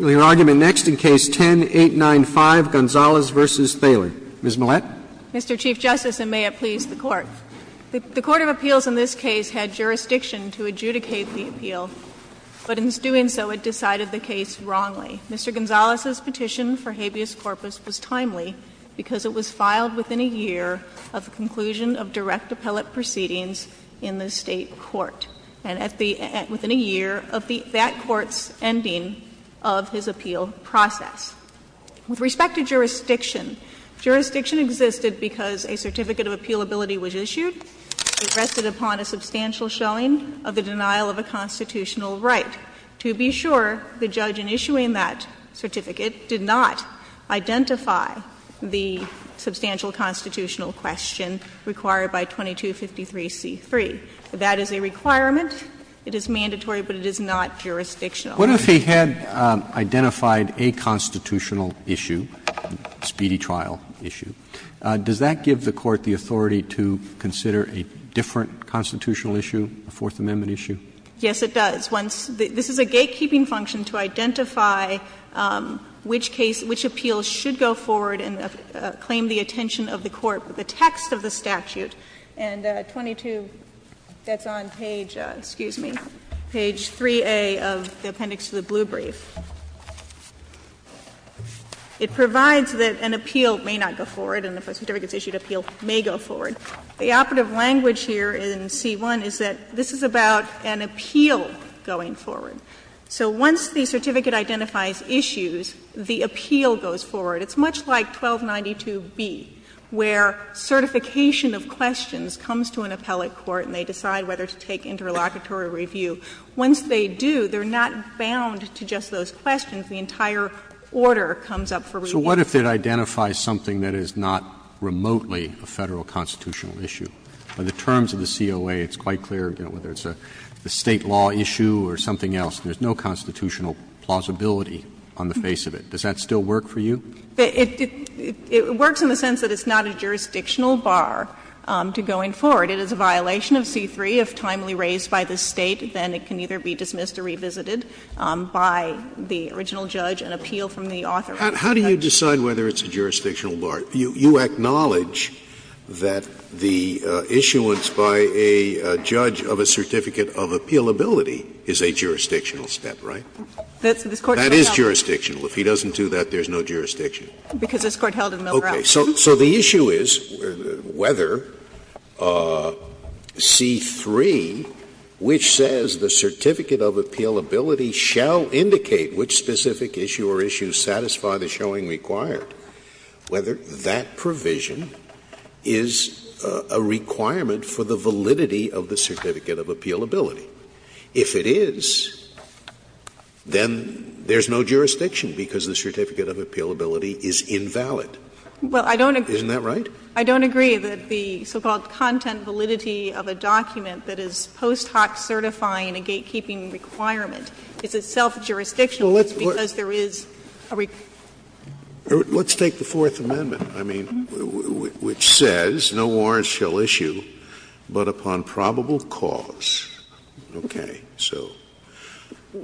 Your argument next in case 10-895, Gonzales v. Thaler. Ms. Millett. Mr. Chief Justice, and may it please the Court, the Court of Appeals in this case had jurisdiction to adjudicate the appeal, but in doing so, it decided the case wrongly. Mr. Gonzales' petition for habeas corpus was timely because it was filed within a year of the conclusion of direct appellate proceedings in the state court. And at the end, within a year of that court's ending of his appeal process. With respect to jurisdiction, jurisdiction existed because a certificate of appealability was issued. It rested upon a substantial showing of the denial of a constitutional right. To be sure, the judge in issuing that certificate did not identify the substantial constitutional question required by 2253c3. That is a requirement. It is mandatory, but it is not jurisdictional. Roberts, What if he had identified a constitutional issue, a speedy trial issue? Does that give the Court the authority to consider a different constitutional issue, a Fourth Amendment issue? Ms. Millett Yes, it does. Once the — this is a gatekeeping function to identify which case — which appeals should go forward and claim the attention of the Court with the text of the statute. And 22 — that's on page — excuse me — page 3A of the appendix to the blue brief. It provides that an appeal may not go forward, and if a certificate is issued, appeal may go forward. The operative language here in C-1 is that this is about an appeal going forward. So once the certificate identifies issues, the appeal goes forward. It's much like 1292b, where certification of questions comes to an appellate court and they decide whether to take interlocutory review. Once they do, they're not bound to just those questions. The entire order comes up for review. Roberts, So what if it identifies something that is not remotely a Federal constitutional issue? By the terms of the COA, it's quite clear, you know, whether it's a State law issue or something else. There's no constitutional plausibility on the face of it. Does that still work for you? It works in the sense that it's not a jurisdictional bar to going forward. It is a violation of C-3. If timely raised by the State, then it can either be dismissed or revisited by the original judge, an appeal from the author. How do you decide whether it's a jurisdictional bar? You acknowledge that the issuance by a judge of a certificate of appealability is a jurisdictional step, right? That is jurisdictional. If he doesn't do that, there's no jurisdiction. Because this Court held in Milgrove. Okay. So the issue is whether C-3, which says the certificate of appealability shall indicate which specific issue or issues satisfy the showing required, whether that provision is a requirement for the validity of the certificate of appealability. If it is, then there's no jurisdiction because the certificate of appealability is invalid. Isn't that right? I don't agree that the so-called content validity of a document that is post hoc certifying a gatekeeping requirement is itself jurisdictional. It's because there is a requirement. Let's take the Fourth Amendment, I mean, which says, No warrant shall issue but upon probable cause. Okay. So,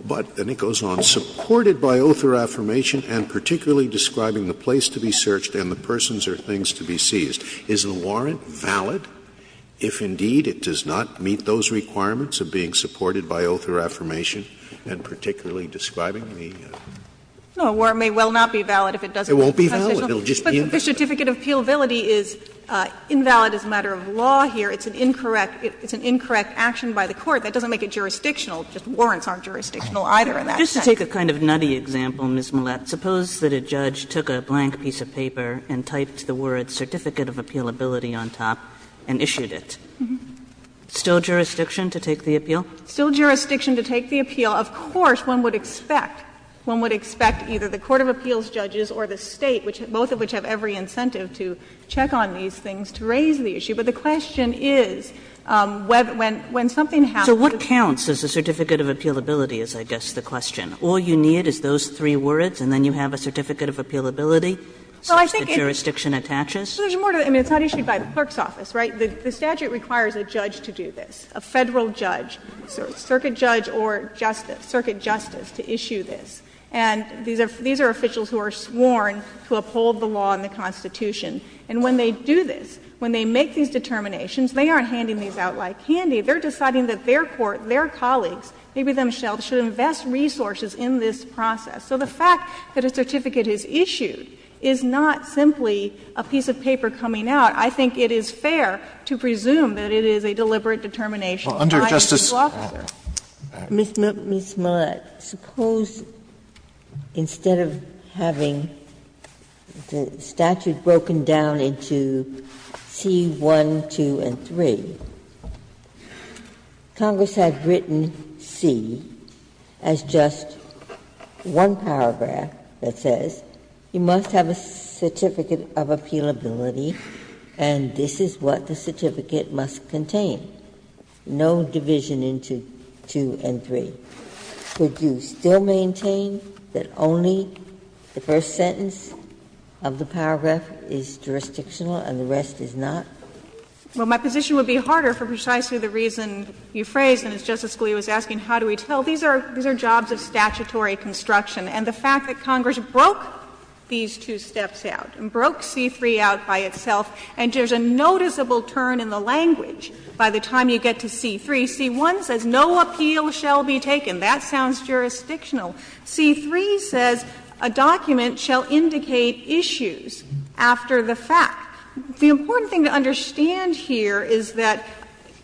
but then it goes on, Supported by oath or affirmation, and particularly describing the place to be searched and the persons or things to be seized. Is the warrant valid if, indeed, it does not meet those requirements of being supported by oath or affirmation, and particularly describing the? No, a warrant may well not be valid if it doesn't meet those requirements. It won't be valid. It will just be in the statute. The certificate of appealability is invalid as a matter of law here. It's an incorrect action by the Court. That doesn't make it jurisdictional. Just warrants aren't jurisdictional either in that sense. Just to take a kind of nutty example, Ms. Millett, suppose that a judge took a blank piece of paper and typed the words certificate of appealability on top and issued it. Still jurisdiction to take the appeal? Still jurisdiction to take the appeal. Of course, one would expect, one would expect either the court of appeals judges or the State, both of which have every incentive to check on these things, to raise the issue. But the question is, when something happens. So what counts as a certificate of appealability is, I guess, the question? All you need is those three words, and then you have a certificate of appealability such that jurisdiction attaches? Well, I think there's more to it. I mean, it's not issued by the clerk's office, right? The statute requires a judge to do this, a Federal judge, so a circuit judge or justice, circuit justice, to issue this. And these are officials who are sworn to uphold the law and the Constitution. And when they do this, when they make these determinations, they aren't handing these out like candy. They're deciding that their court, their colleagues, maybe themselves, should invest resources in this process. So the fact that a certificate is issued is not simply a piece of paper coming out. I think it is fair to presume that it is a deliberate determination by the law firm. Ginsburg. Ms. Millett, suppose instead of having the statute broken down into C-1, 2, and 3, Congress had written C as just one paragraph that says, you must have a certificate of appealability, and this is what the certificate must contain. No division into 2 and 3. Would you still maintain that only the first sentence of the paragraph is jurisdictional and the rest is not? Well, my position would be harder for precisely the reason you phrased, and as Justice Scalia was asking, how do we tell? These are jobs of statutory construction. And the fact that Congress broke these two steps out and broke C-3 out by itself, and there is a noticeable turn in the language by the time you get to C-3. C-1 says no appeal shall be taken. That sounds jurisdictional. C-3 says a document shall indicate issues after the fact. The important thing to understand here is that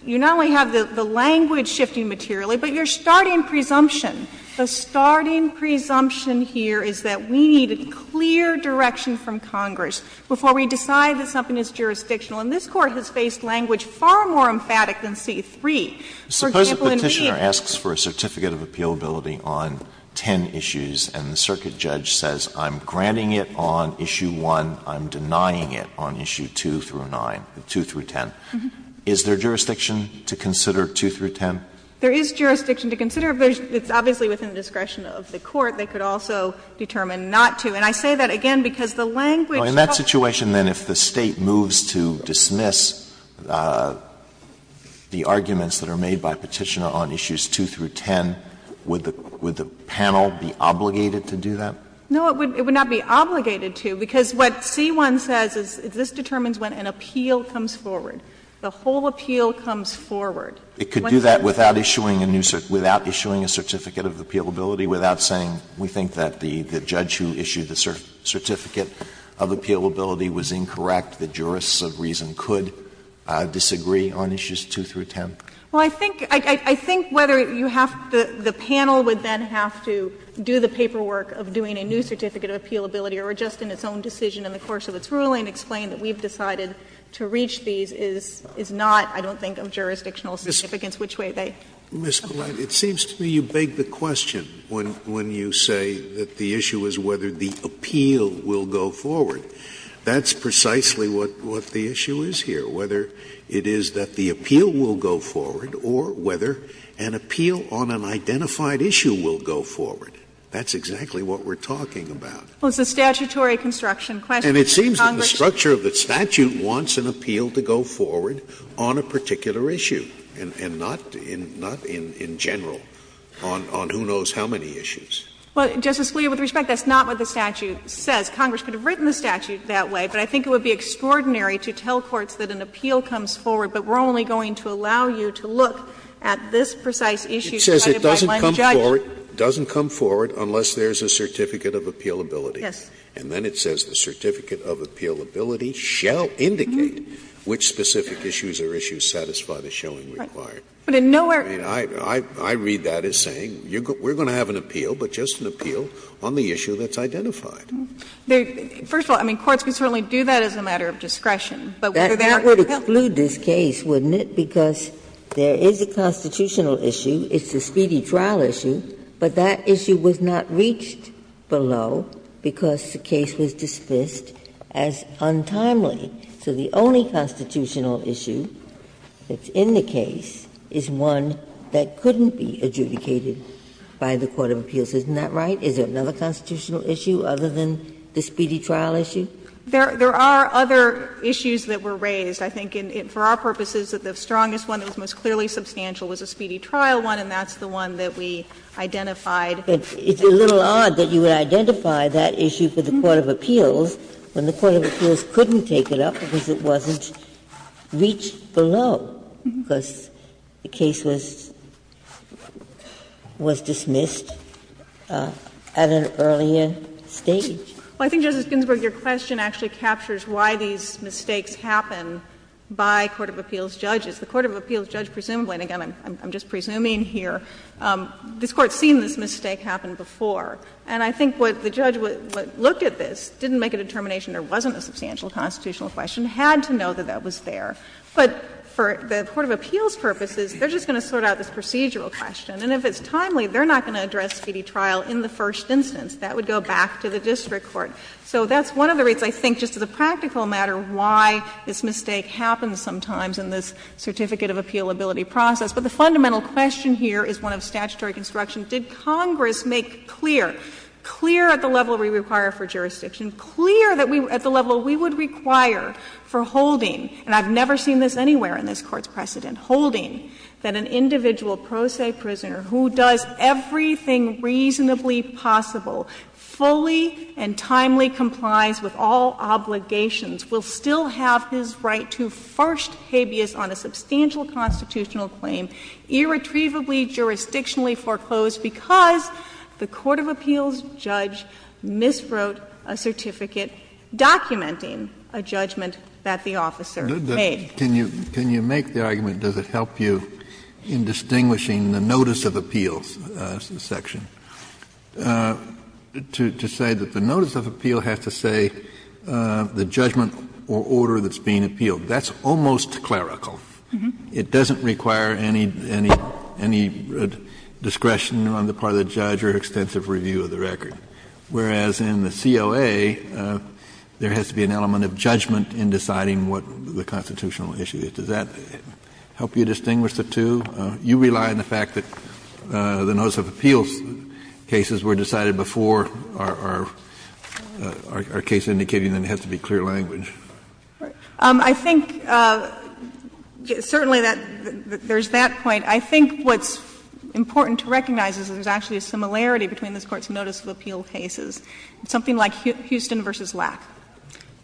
you not only have the language shifting materially, but your starting presumption, the starting presumption here is that we need clear direction from Congress before we decide that something is jurisdictional. And this Court has faced language far more emphatic than C-3. For example, in the end, it's not just a question of whether or not it's jurisdictional or not. Alitoson Suppose a Petitioner asks for a certificate of appealability on 10 issues and the circuit judge says, I'm granting it on issue 1, I'm denying it on issue 2 through 9, 2 through 10. Is there jurisdiction to consider 2 through 10? There is jurisdiction to consider. It's obviously within the discretion of the Court. They could also determine not to. And I say that again because the language of the Court is different. Alitoson In that situation, then, if the State moves to dismiss the arguments that are made by Petitioner on issues 2 through 10, would the panel be obligated to do that? No, it would not be obligated to because what C-1 says is this determines when an appeal comes forward, the whole appeal comes forward. Alitoson It could do that without issuing a new certificate, without issuing a certificate of appealability, without saying, we think that the judge who issued the certificate of appealability was incorrect, the jurists of reason could disagree on issues 2 through 10? Kagan Well, I think whether you have to the panel would then have to do the paperwork of doing a new certificate of appealability or just in its own decision in the course of its ruling explain that we've decided to reach these is not, I don't think, of jurisdictional significance, which way they apply. Scalia It seems to me you beg the question when you say that the issue is whether the appeal will go forward. That's precisely what the issue is here, whether it is that the appeal will go forward or whether an appeal on an identified issue will go forward. That's exactly what we're talking about. Kagan Well, it's a statutory construction. Scalia And it seems that the structure of the statute wants an appeal to go forward on a particular issue and not in general on who knows how many issues. Kagan Well, Justice Scalia, with respect, that's not what the statute says. Congress could have written the statute that way, but I think it would be extraordinary to tell courts that an appeal comes forward, but we're only going to allow you to look at this precise issue cited by one judge. Scalia It says it doesn't come forward unless there is a certificate of appealability. Kagan Yes. Scalia And then it says the certificate of appealability shall indicate which specific issues or issues satisfy the showing required. Kagan But in no way are we going to have an appeal. Scalia I read that as saying we're going to have an appeal, but just an appeal on the issue that's identified. Kagan First of all, I mean, courts can certainly do that as a matter of discretion, but whether there is an appeal. Ginsburg That would exclude this case, wouldn't it? Because there is a constitutional issue, it's a speedy trial issue, but that issue was not reached below because the case was dismissed as untimely. So the only constitutional issue that's in the case is one that couldn't be adjudicated by the court of appeals, isn't that right? Is there another constitutional issue other than the speedy trial issue? Kagan There are other issues that were raised. I think for our purposes, the strongest one that was most clearly substantial was the speedy trial one, and that's the one that we identified. Ginsburg It's a little odd that you would identify that issue for the court of appeals when the court of appeals couldn't take it up because it wasn't reached below, because the case was dismissed at an earlier stage. Kagan Well, I think, Justice Ginsburg, your question actually captures why these mistakes happen by court of appeals judges. The court of appeals judge presumably, and again, I'm just presuming here, this Court has seen this mistake happen before. And I think what the judge looked at this, didn't make a determination there wasn't a substantial constitutional question, had to know that that was there. But for the court of appeals purposes, they're just going to sort out this procedural question. And if it's timely, they're not going to address speedy trial in the first instance. That would go back to the district court. So that's one of the reasons, I think, just as a practical matter, why this mistake happens sometimes in this certificate of appealability process. But the fundamental question here is one of statutory construction. Did Congress make clear, clear at the level we require for jurisdiction, clear at the level we would require for holding, and I've never seen this anywhere in this Court's precedent, holding that an individual pro se prisoner who does everything reasonably possible, fully and timely complies with all obligations, will still have his right to first habeas on a substantial constitutional claim, irretrievably jurisdictionally foreclosed because the court of appeals judge miswrote a certificate documenting a judgment that the officer made? Kennedy, can you make the argument, does it help you in distinguishing the notice of appeals section, to say that the notice of appeal has to say the judgment or order that's being appealed. That's almost clerical. It doesn't require any discretion on the part of the judge or extensive review of the record, whereas in the COA, there has to be an element of judgment in deciding what the constitutional issue is. Does that help you distinguish the two? You rely on the fact that the notice of appeals cases were decided before our case indicating that it has to be clear language. I think certainly that there's that point. I think what's important to recognize is there's actually a similarity between this Court's notice of appeal cases. Something like Houston v. Lack,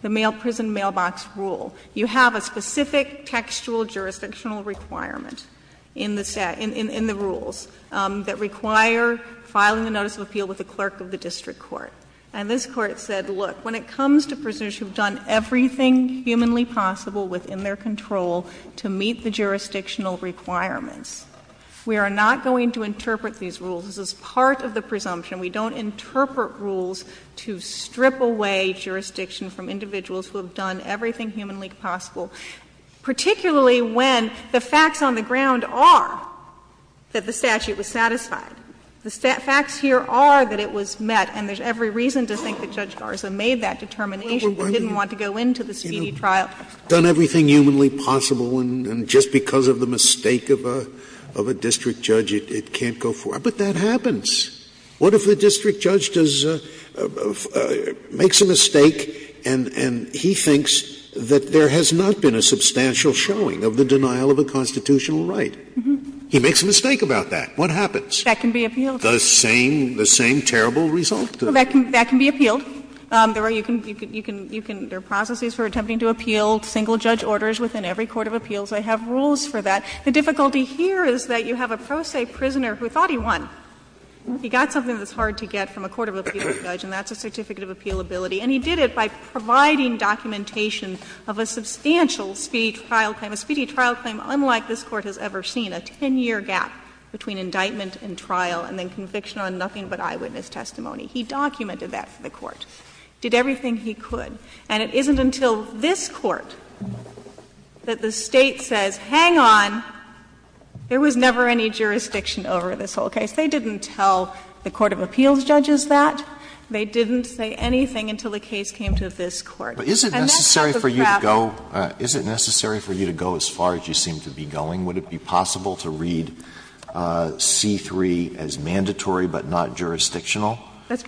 the prison mailbox rule. You have a specific textual jurisdictional requirement in the set, in the rules that require filing a notice of appeal with the clerk of the district court. And this Court said, look, when it comes to prisoners who've done everything humanly possible within their control to meet the jurisdictional requirements, we are not going to interpret these rules. This is part of the presumption. We don't interpret rules to strip away jurisdiction from individuals who have done everything humanly possible, particularly when the facts on the ground are that the statute was satisfied. The facts here are that it was met, and there's every reason to think that Judge Garza made that determination, but didn't want to go into the speedy trial. Scalia You've done everything humanly possible, and just because of the mistake of a district judge, it can't go forward. But that happens. What if the district judge does — makes a mistake and he thinks that there has not been a substantial showing of the denial of a constitutional right? He makes a mistake about that. What happens? That can be appealed. Scalia The same — the same terrible result? That can be appealed. There are processes for attempting to appeal single-judge orders within every court of appeals. They have rules for that. The difficulty here is that you have a pro se prisoner who thought he won. He got something that's hard to get from a court of appeals judge, and that's a certificate of appealability. And he did it by providing documentation of a substantial speedy trial claim, a speedy between indictment and trial, and then conviction on nothing but eyewitness testimony. He documented that for the Court, did everything he could. And it isn't until this Court that the State says, hang on, there was never any jurisdiction over this whole case. They didn't tell the court of appeals judges that. They didn't say anything until the case came to this Court. And that's not the problem. Alito But is it necessary for you to go — is it necessary for you to go as far as you seem to be going? Would it be possible to read C-3 as mandatory but not jurisdictional?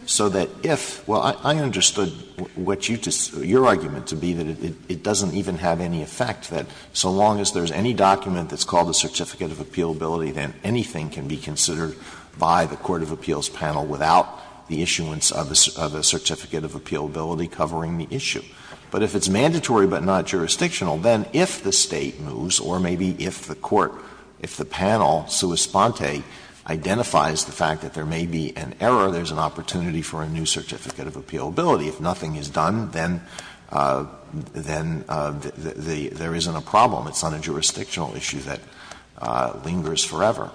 So that if — well, I understood what you — your argument to be that it doesn't even have any effect, that so long as there's any document that's called a certificate of appealability, then anything can be considered by the court of appeals panel without the issuance of a certificate of appealability covering the issue. But if it's mandatory but not jurisdictional, then if the State moves, or maybe if the court, if the panel, sua sponte, identifies the fact that there may be an error, there's an opportunity for a new certificate of appealability. If nothing is done, then — then the — there isn't a problem. It's not a jurisdictional issue that lingers forever.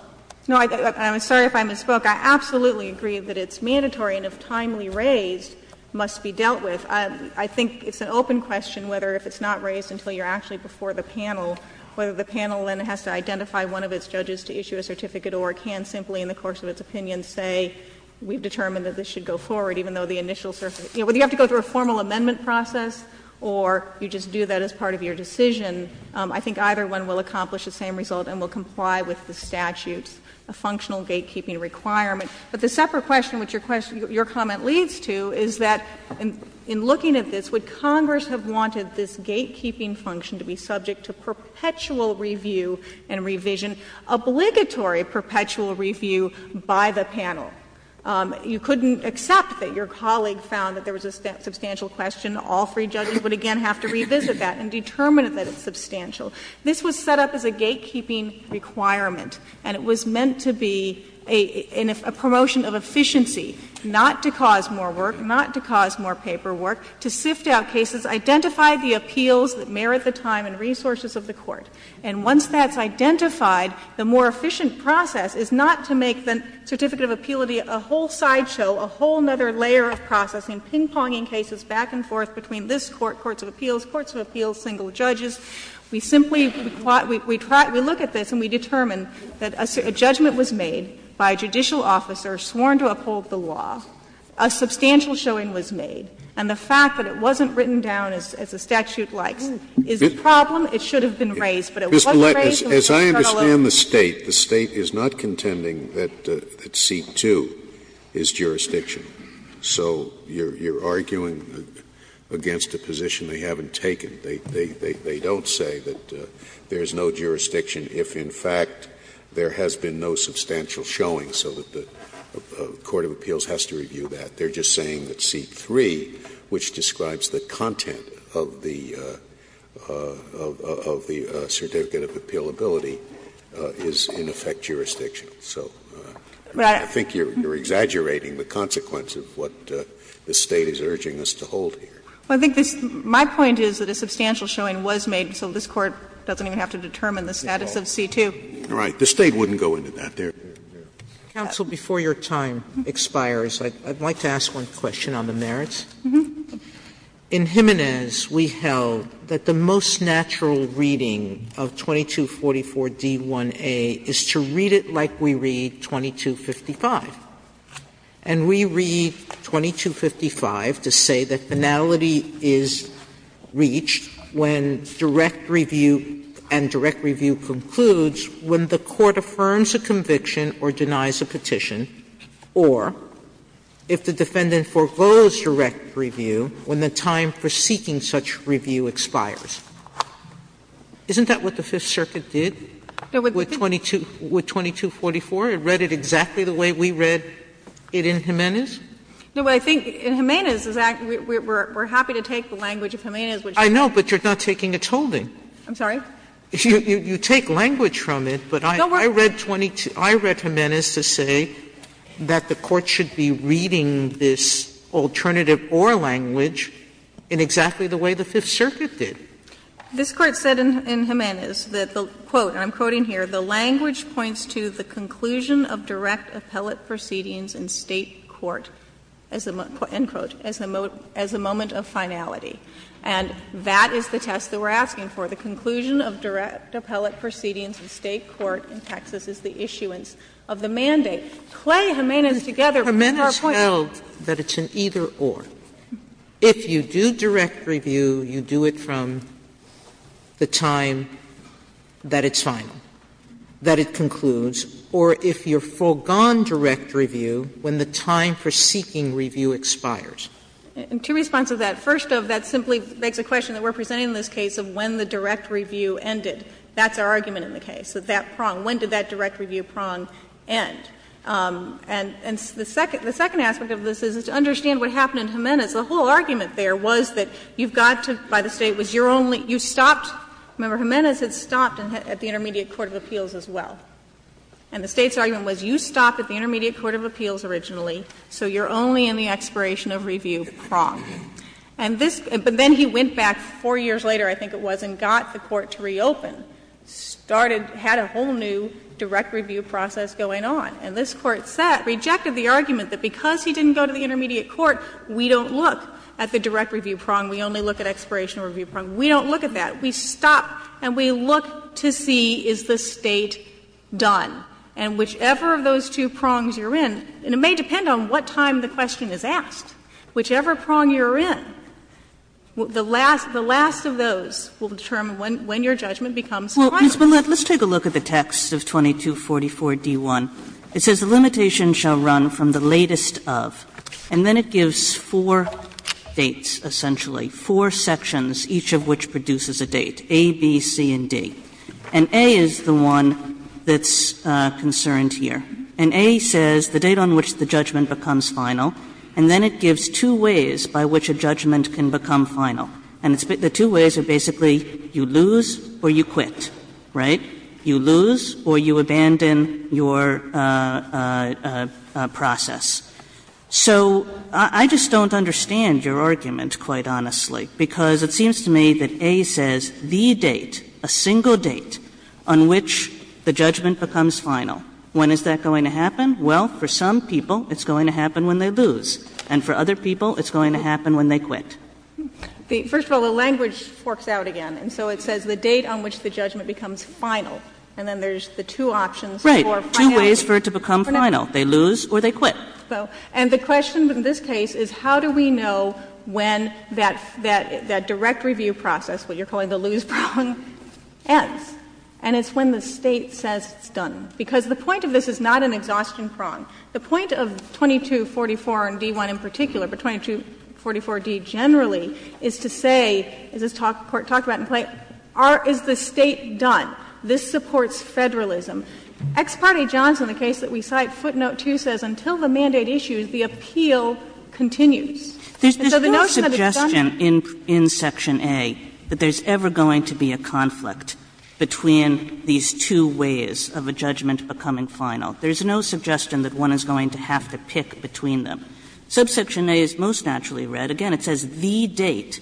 No, I — I'm sorry if I misspoke. I absolutely agree that it's mandatory and, if timely raised, must be dealt with. I think it's an open question whether, if it's not raised until you're actually before the panel, whether the panel then has to identify one of its judges to issue a certificate or can simply, in the course of its opinion, say, we've determined that this should go forward, even though the initial — you know, whether you have to go through a formal amendment process or you just do that as part of your decision, I think either one will accomplish the same result and will comply with the statute's functional gatekeeping requirement. But the separate question, which your question — your comment leads to, is that, in looking at this, would Congress have wanted this gatekeeping function to be subject to perpetual review and revision, obligatory perpetual review by the panel? You couldn't accept that your colleague found that there was a substantial question. All three judges would, again, have to revisit that and determine that it's substantial. This was set up as a gatekeeping requirement, and it was meant to be a — in a promotion of efficiency, not to cause more work, not to cause more paperwork, to sift out cases, identify the appeals that merit the time and resources of the Court. And once that's identified, the more efficient process is not to make the certificate of appeality a whole sideshow, a whole other layer of processing, ping-ponging cases back and forth between this Court, courts of appeals, courts of appeals, single judges. We simply — we look at this and we determine that a judgment was made by a judicial officer sworn to uphold the law, a substantial showing was made, and the fact that it wasn't written down as the statute likes is a problem. It should have been raised, but it wasn't raised in the paternal opening. Scalia. Mr. Lett, as I understand the State, the State is not contending that C-2 is jurisdiction. So you're arguing against a position they haven't taken. They don't say that there is no jurisdiction if, in fact, there has been no substantial showing, so that the court of appeals has to review that. They're just saying that C-3, which describes the content of the certificate of appealability, is in effect jurisdiction. So I think you're exaggerating the consequence of what the State is urging us to hold here. Well, I think this — my point is that a substantial showing was made, so this Court doesn't even have to determine the status of C-2. All right. The State wouldn't go into that there. Counsel, before your time expires, I'd like to ask one question on the merits. In Jimenez, we held that the most natural reading of 2244d1a is to read it like we read 2255. And we read 2255 to say that finality is reached when direct review and direct review concludes when the court affirms a conviction or denies a petition, or if the defendant foregoes direct review when the time for seeking such review expires. Isn't that what the Fifth Circuit did with 2244? It read it exactly the way we read it in Jimenez? No, but I think in Jimenez, we're happy to take the language of Jimenez, which is true. I know, but you're not taking a tolling. I'm sorry? You take language from it, but I read Jimenez to say that the Court should be reading this alternative or language in exactly the way the Fifth Circuit did. This Court said in Jimenez that the, quote, and I'm quoting here, the language points to the conclusion of direct appellate proceedings in State court, end quote, as a moment of finality. And that is the test that we're asking for, the conclusion of direct appellate proceedings in State court in Texas as the issuance of the mandate. Clay and Jimenez together, our point is that it's an either or. If you do direct review, you do it from the time that it's final. That it concludes. Or if you foregone direct review when the time for seeking review expires. And two responses to that. First of, that simply begs the question that we're presenting in this case of when the direct review ended. That's our argument in the case, that that prong, when did that direct review prong end? And the second aspect of this is to understand what happened in Jimenez. The whole argument there was that you've got to, by the State, was your only, you had stopped at the Intermediate Court of Appeals as well. And the State's argument was you stopped at the Intermediate Court of Appeals originally, so you're only in the expiration of review prong. And this, but then he went back four years later, I think it was, and got the court to reopen. Started, had a whole new direct review process going on. And this Court said, rejected the argument that because he didn't go to the intermediate court, we don't look at the direct review prong. We only look at expiration of review prong. We don't look at that. We stop and we look to see is the State done. And whichever of those two prongs you're in, it may depend on what time the question is asked, whichever prong you are in, the last of those will determine when your judgment becomes final. Kagan, let's take a look at the text of 2244D1. It says, the limitation, shall run from the latest of, and then it gives four dates, essentially, four sections, each of which produces a date, A, B, C, and D. And A is the one that's concerned here. And A says the date on which the judgment becomes final, and then it gives two ways by which a judgment can become final. And the two ways are basically you lose or you quit, right? You lose or you abandon your process. So I just don't understand your argument, quite honestly, because it seems to me that A says the date, a single date, on which the judgment becomes final. When is that going to happen? Well, for some people it's going to happen when they lose, and for other people it's going to happen when they quit. First of all, the language forks out again. And so it says the date on which the judgment becomes final, and then there's the two options for finality. Right. Two ways for it to become final. They lose or they quit. So, and the question in this case is how do we know when that direct review process, what you're calling the lose prong, ends? And it's when the State says it's done, because the point of this is not an exhaustion prong. The point of 2244 and D-1 in particular, but 2244-D generally, is to say, as this Court talked about in plaint, is the State done? This supports federalism. Ex parte Johnson, the case that we cite, footnote 2 says, until the mandate issues, the appeal continues. And so the notion that it's done is not true. Kagan in Section A that there's ever going to be a conflict between these two ways of a judgment becoming final. There's no suggestion that one is going to have to pick between them. Subsection A is most naturally read. Again, it says the date.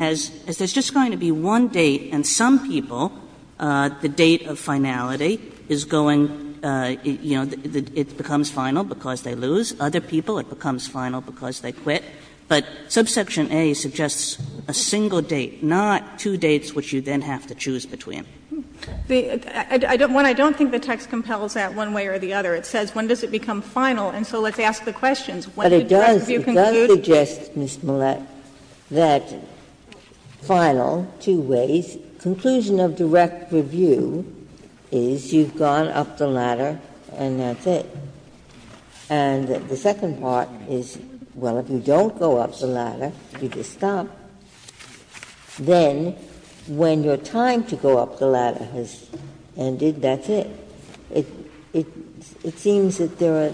As there's just going to be one date and some people, the date of finality is going to be, you know, it becomes final because they lose. Other people, it becomes final because they quit. But subsection A suggests a single date, not two dates which you then have to choose between. The other one, I don't think the text compels that one way or the other. It says when does it become final, and so let's ask the questions. When did direct review conclude? Ginsburg's It does suggest, Ms. Millett, that final, two ways. The conclusion of direct review is you've gone up the ladder and that's it. And the second part is, well, if you don't go up the ladder, you just stop. Then, when your time to go up the ladder has ended, that's it. It seems that there are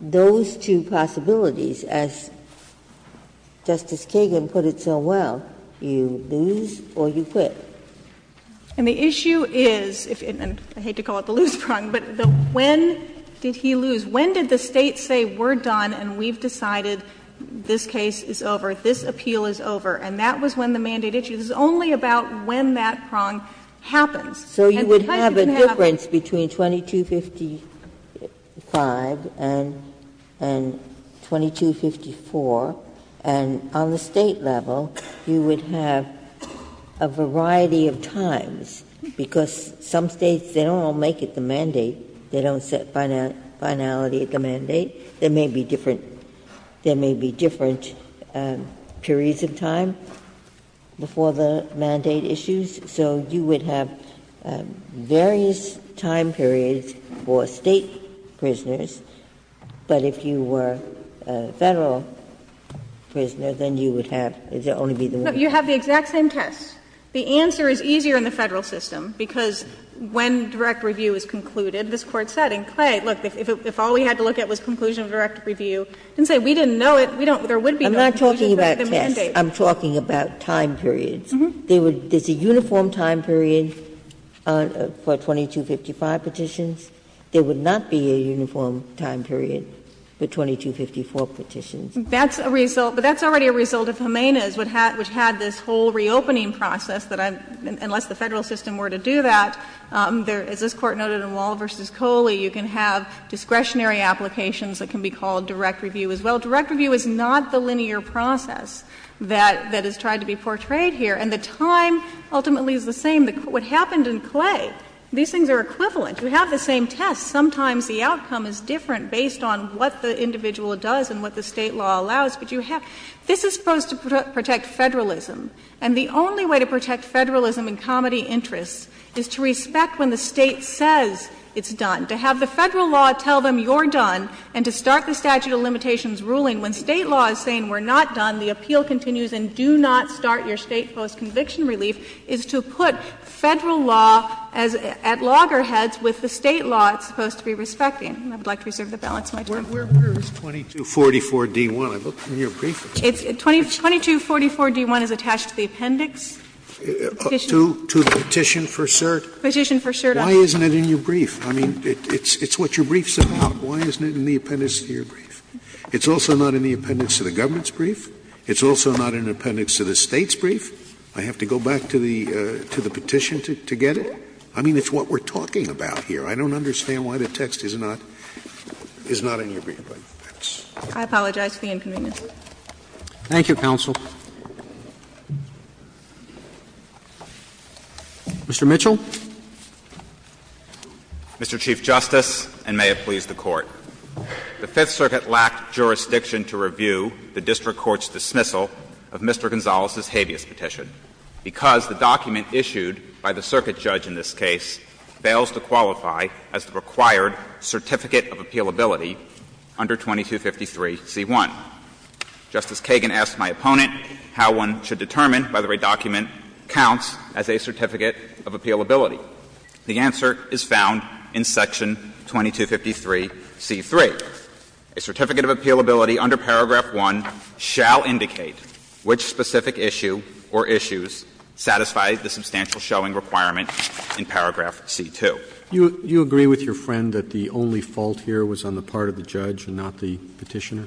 those two possibilities, as Justice Kagan put it so well. You lose or you quit. Millett And the issue is, and I hate to call it the lose prong, but when did he lose? When did the State say, we're done and we've decided this case is over, this appeal is over, and that was when the mandate issues? It's only about when that prong happens. And the time didn't happen. Ginsburg So you would have a difference between 2255 and 2254, and on the State level, you would have a variety of times, because some States, they don't all make it the mandate, they don't set finality at the mandate. There may be different periods of time before the mandate issues, so you would have various time periods for State prisoners, but if you were a Federal prisoner, then you would have, it would only be the one. Millett No, you have the exact same test. The answer is easier in the Federal system, because when direct review is concluded, this Court said in Clay, look, if all we had to look at was conclusion of direct review, it didn't say we didn't know it, we don't, there would be no conclusion to the mandate. Ginsburg I'm not talking about tests. I'm talking about time periods. There's a uniform time period for 2255 petitions. There would not be a uniform time period for 2254 petitions. Millett That's a result, but that's already a result of Jimenez, which had this whole reopening process, that unless the Federal system were to do that, as this Court noted in Wall v. Coley, you can have discretionary applications that can be called direct review as well. Direct review is not the linear process that is tried to be portrayed here, and the time ultimately is the same. What happened in Clay, these things are equivalent. You have the same test. Sometimes the outcome is different based on what the individual does and what the State law allows, but you have, this is supposed to protect Federalism, and the only way to protect Federalism and comity interests is to respect when the State says it's done, to have the Federal law tell them you're done, and to start the statute of limitations ruling when State law is saying we're not done, the appeal continues and do not start your State post-conviction relief, is to put Federal law at loggerheads with the State law it's supposed to be respecting. I would like to reserve the balance of my time. Sotomayor, where is 2244d-1? I looked in your brief. 2244d-1 is attached to the appendix. To the petition for cert. Petition for cert. Why isn't it in your brief? I mean, it's what your brief's about. Why isn't it in the appendix to your brief? It's also not in the appendix to the government's brief. It's also not in the appendix to the State's brief. I have to go back to the petition to get it? I mean, it's what we're talking about here. I don't understand why the text is not in your brief. I apologize for the inconvenience. Thank you, counsel. Mr. Mitchell. Mr. Chief Justice, and may it please the Court. The Fifth Circuit lacked jurisdiction to review the district court's dismissal of Mr. Gonzales' habeas petition because the document issued by the circuit judge in this case fails to qualify as the required certificate of appealability under 2253c-1. Justice Kagan asked my opponent how one should determine whether a document counts as a certificate of appealability. The answer is found in section 2253c-3. A certificate of appealability under paragraph 1 shall indicate which specific issue or issues satisfy the substantial showing requirement in paragraph c-2. Do you agree with your friend that the only fault here was on the part of the judge and not the Petitioner?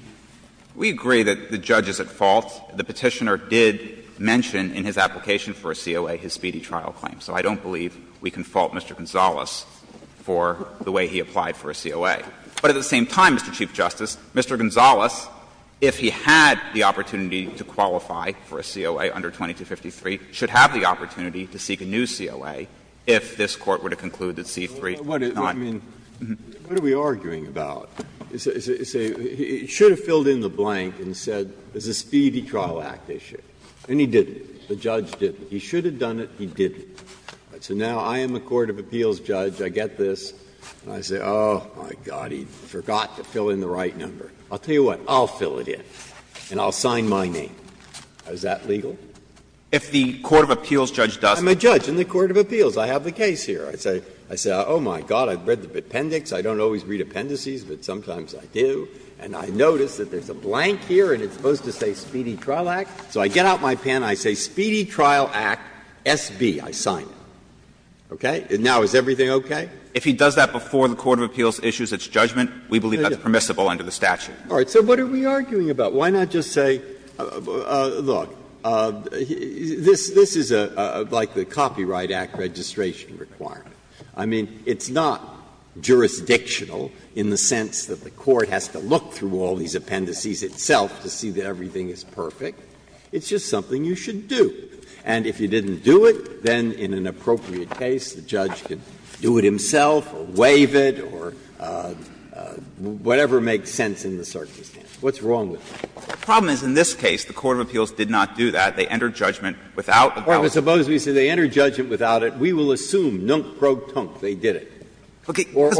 We agree that the judge is at fault. The Petitioner did mention in his application for a COA his speedy trial claim. So I don't believe we can fault Mr. Gonzales for the way he applied for a COA. But at the same time, Mr. Chief Justice, Mr. Gonzales, if he had the opportunity to qualify for a COA under 2253, should have the opportunity to seek a new COA if this Court were to conclude that c-3 is not. Breyer, I mean, what are we arguing about? He should have filled in the blank and said it's a speedy trial act issue. And he didn't. The judge didn't. He should have done it. He didn't. So now I am a court of appeals judge. I get this. I say, oh, my God, he forgot to fill in the right number. I'll tell you what. I'll fill it in. And I'll sign my name. Is that legal? If the court of appeals judge does. I'm a judge in the court of appeals. I have the case here. I say, oh, my God, I've read the appendix. I don't always read appendices, but sometimes I do. And I notice that there's a blank here and it's supposed to say speedy trial act. So I get out my pen and I say speedy trial act, SB. I sign it. Okay? And now is everything okay? If he does that before the court of appeals issues its judgment, we believe that's permissible under the statute. Breyer. So what are we arguing about? Why not just say, look, this is like the Copyright Act registration requirement. I mean, it's not jurisdictional in the sense that the court has to look through all these appendices itself to see that everything is perfect. It's just something you should do. And if you didn't do it, then in an appropriate case, the judge can do it himself or waive it or whatever makes sense in the circumstance. What's wrong with that? The problem is in this case, the court of appeals did not do that. They entered judgment without the penalty. Suppose we say they entered judgment without it. We will assume, nunk pro tonk, they did it. Or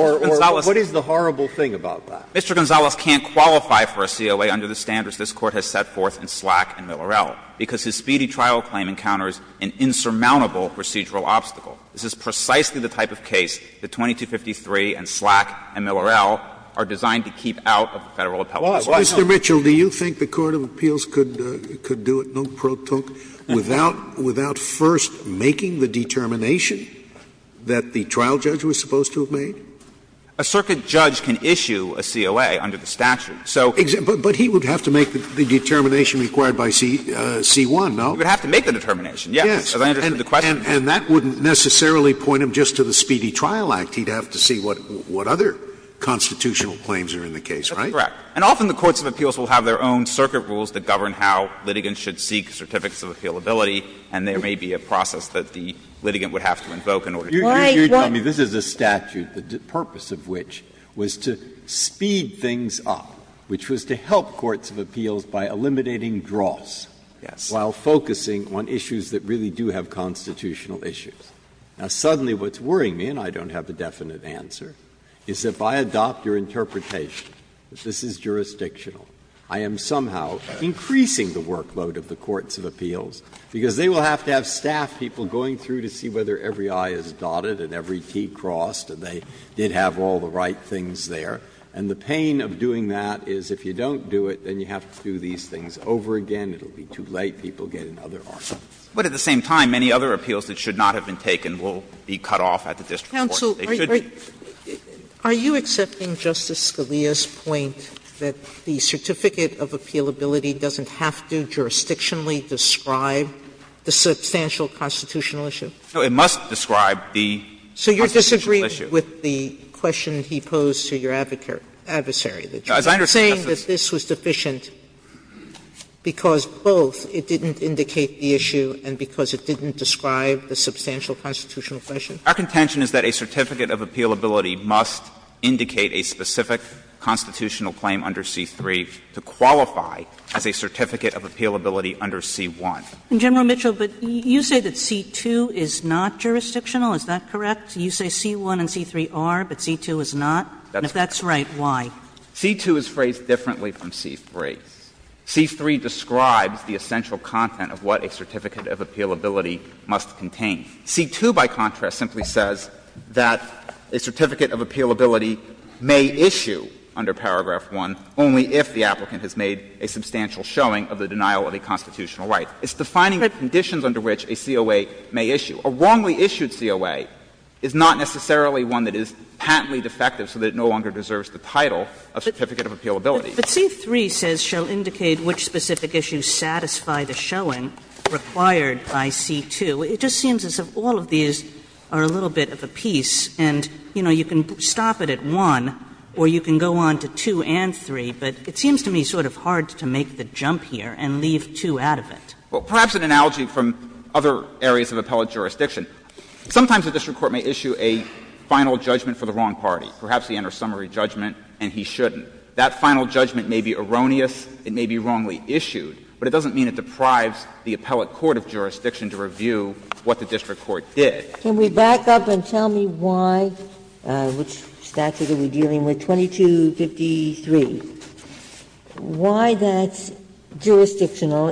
what is the horrible thing about that? Mr. Gonzales can't qualify for a CLA under the standards this Court has set forth in Slack and Miller-El, because his speedy trial claim encounters an insurmountable procedural obstacle. This is precisely the type of case that 2253 and Slack and Miller-El are designed to keep out of the Federal appellate law. Scalia, Mr. Mitchell, do you think the court of appeals could do it, nunk pro tonk, without first making the determination that the trial judge was supposed to have made? A circuit judge can issue a CLA under the statute, so. But he would have to make the determination required by C1, no? He would have to make the determination, yes, as I understood the question. And that wouldn't necessarily point him just to the Speedy Trial Act. He would have to see what other constitutional claims are in the case, right? That's correct. And often the courts of appeals will have their own circuit rules that govern how litigants should seek certificates of appealability, and there may be a process that the litigant would have to invoke in order to do that. You're telling me this is a statute, the purpose of which was to speed things up, which was to help courts of appeals by eliminating draws while focusing on issues that really do have constitutional issues. Now, suddenly what's worrying me, and I don't have a definite answer, is if I adopt your interpretation that this is jurisdictional, I am somehow increasing the workload of the courts of appeals, because they will have to have staff people going through to see whether every I is dotted and every T crossed, and they did have all the right things there. And the pain of doing that is if you don't do it, then you have to do these things over again. It will be too late. People get in other arguments. But at the same time, many other appeals that should not have been taken will be cut off at the district courts. They should be. Sotomayor, are you accepting Justice Scalia's point that the certificate of appealability doesn't have to jurisdictionally describe the substantial constitutional issue? No, it must describe the constitutional issue. So you're disagreeing with the question he posed to your adversary, that you were saying that this was deficient because both it didn't indicate the issue and because it didn't describe the substantial constitutional question? Our contention is that a certificate of appealability must indicate a specific constitutional claim under C-3 to qualify as a certificate of appealability under C-1. And, General Mitchell, but you say that C-2 is not jurisdictional. Is that correct? You say C-1 and C-3 are, but C-2 is not? And if that's right, why? C-2 is phrased differently from C-3. C-3 describes the essential content of what a certificate of appealability must contain. C-2, by contrast, simply says that a certificate of appealability may issue under paragraph 1 only if the applicant has made a substantial showing of the denial of a constitutional right. It's defining the conditions under which a COA may issue. A wrongly issued COA is not necessarily one that is patently defective so that it no longer holds the title of certificate of appealability. But C-3 says, shall indicate which specific issues satisfy the showing required by C-2. It just seems as if all of these are a little bit of a piece, and, you know, you can stop it at 1 or you can go on to 2 and 3, but it seems to me sort of hard to make the jump here and leave 2 out of it. Well, perhaps an analogy from other areas of appellate jurisdiction, sometimes the district court may issue a final judgment for the wrong party. Perhaps he enters summary judgment and he shouldn't. That final judgment may be erroneous, it may be wrongly issued, but it doesn't mean it deprives the appellate court of jurisdiction to review what the district court did. Ginsburg. Can we back up and tell me why, which statute are we dealing with, 2253, why that's a federal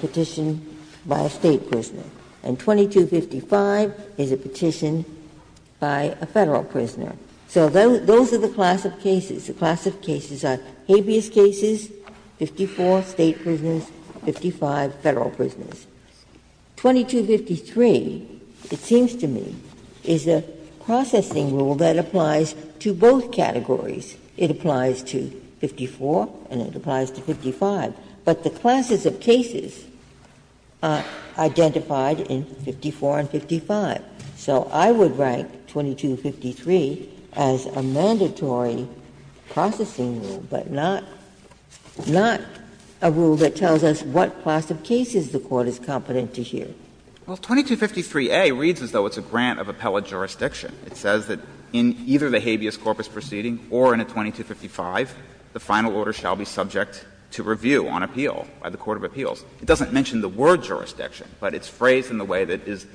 petition by a State prisoner, and 2255 is a petition by a Federal prisoner? So those are the class of cases. The class of cases are habeas cases, 54 State prisoners, 55 Federal prisoners. 2253, it seems to me, is a processing rule that applies to both categories. It applies to 54 and it applies to 55, but the classes of cases are identified in 54 and 55. So I would rank 2253 as a mandatory processing rule, but not a rule that tells us what class of cases the Court is competent to hear. Well, 2253a reads as though it's a grant of appellate jurisdiction. It says that in either the habeas corpus proceeding or in a 2255, the final order shall be subject to review on appeal by the court of appeals. It doesn't mention the word jurisdiction, but it's phrased in a way that is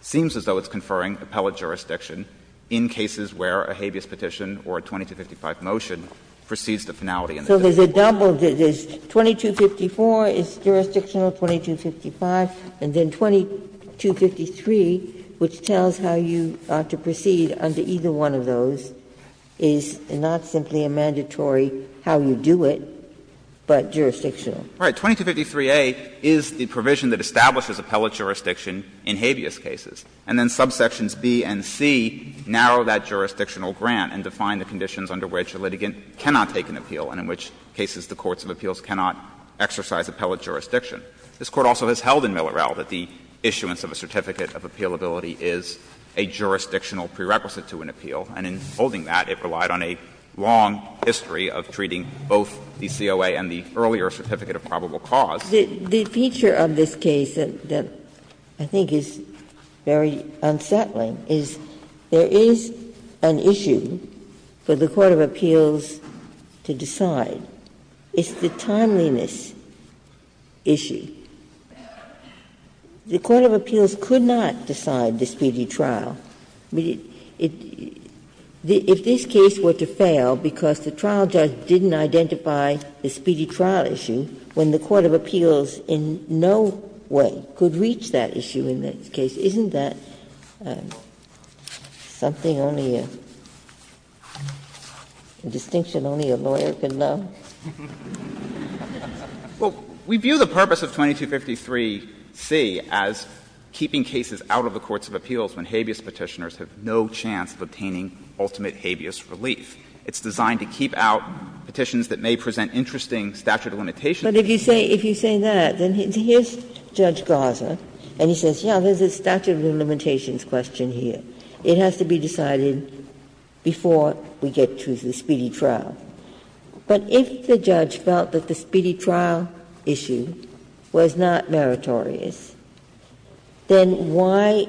seems as though it's conferring appellate jurisdiction in cases where a habeas petition or a 2255 motion proceeds to finality. So there's a double, there's 2254 is jurisdictional, 2255, and then 2253, which tells how you are to proceed under either one of those, is not simply a mandatory how you do it, but jurisdictional. All right. 2253a is the provision that establishes appellate jurisdiction in habeas cases. And then subsections B and C narrow that jurisdictional grant and define the conditions under which a litigant cannot take an appeal and in which cases the courts of appeals cannot exercise appellate jurisdiction. This Court also has held in Miller-El that the issuance of a certificate of appealability is a jurisdictional prerequisite to an appeal, and in holding that, it relied on a long history of treating both the COA and the earlier certificate of probable cause. Ginsburg. The feature of this case that I think is very unsettling is there is an issue for the court of appeals to decide. It's the timeliness issue. The court of appeals could not decide the speedy trial. I mean, if this case were to fail because the trial judge didn't identify the speedy trial issue, when the court of appeals in no way could reach that issue in this case, isn't that something only a distinction only a lawyer could know? Well, we view the purpose of 2253C as keeping cases out of the courts of appeals when habeas Petitioners have no chance of obtaining ultimate habeas relief. It's designed to keep out petitions that may present interesting statute of limitations. Ginsburg. But if you say that, then here's Judge Garza, and he says, yes, there's a statute of limitations question here. It has to be decided before we get to the speedy trial. But if the judge felt that the speedy trial issue was not meritorious, then why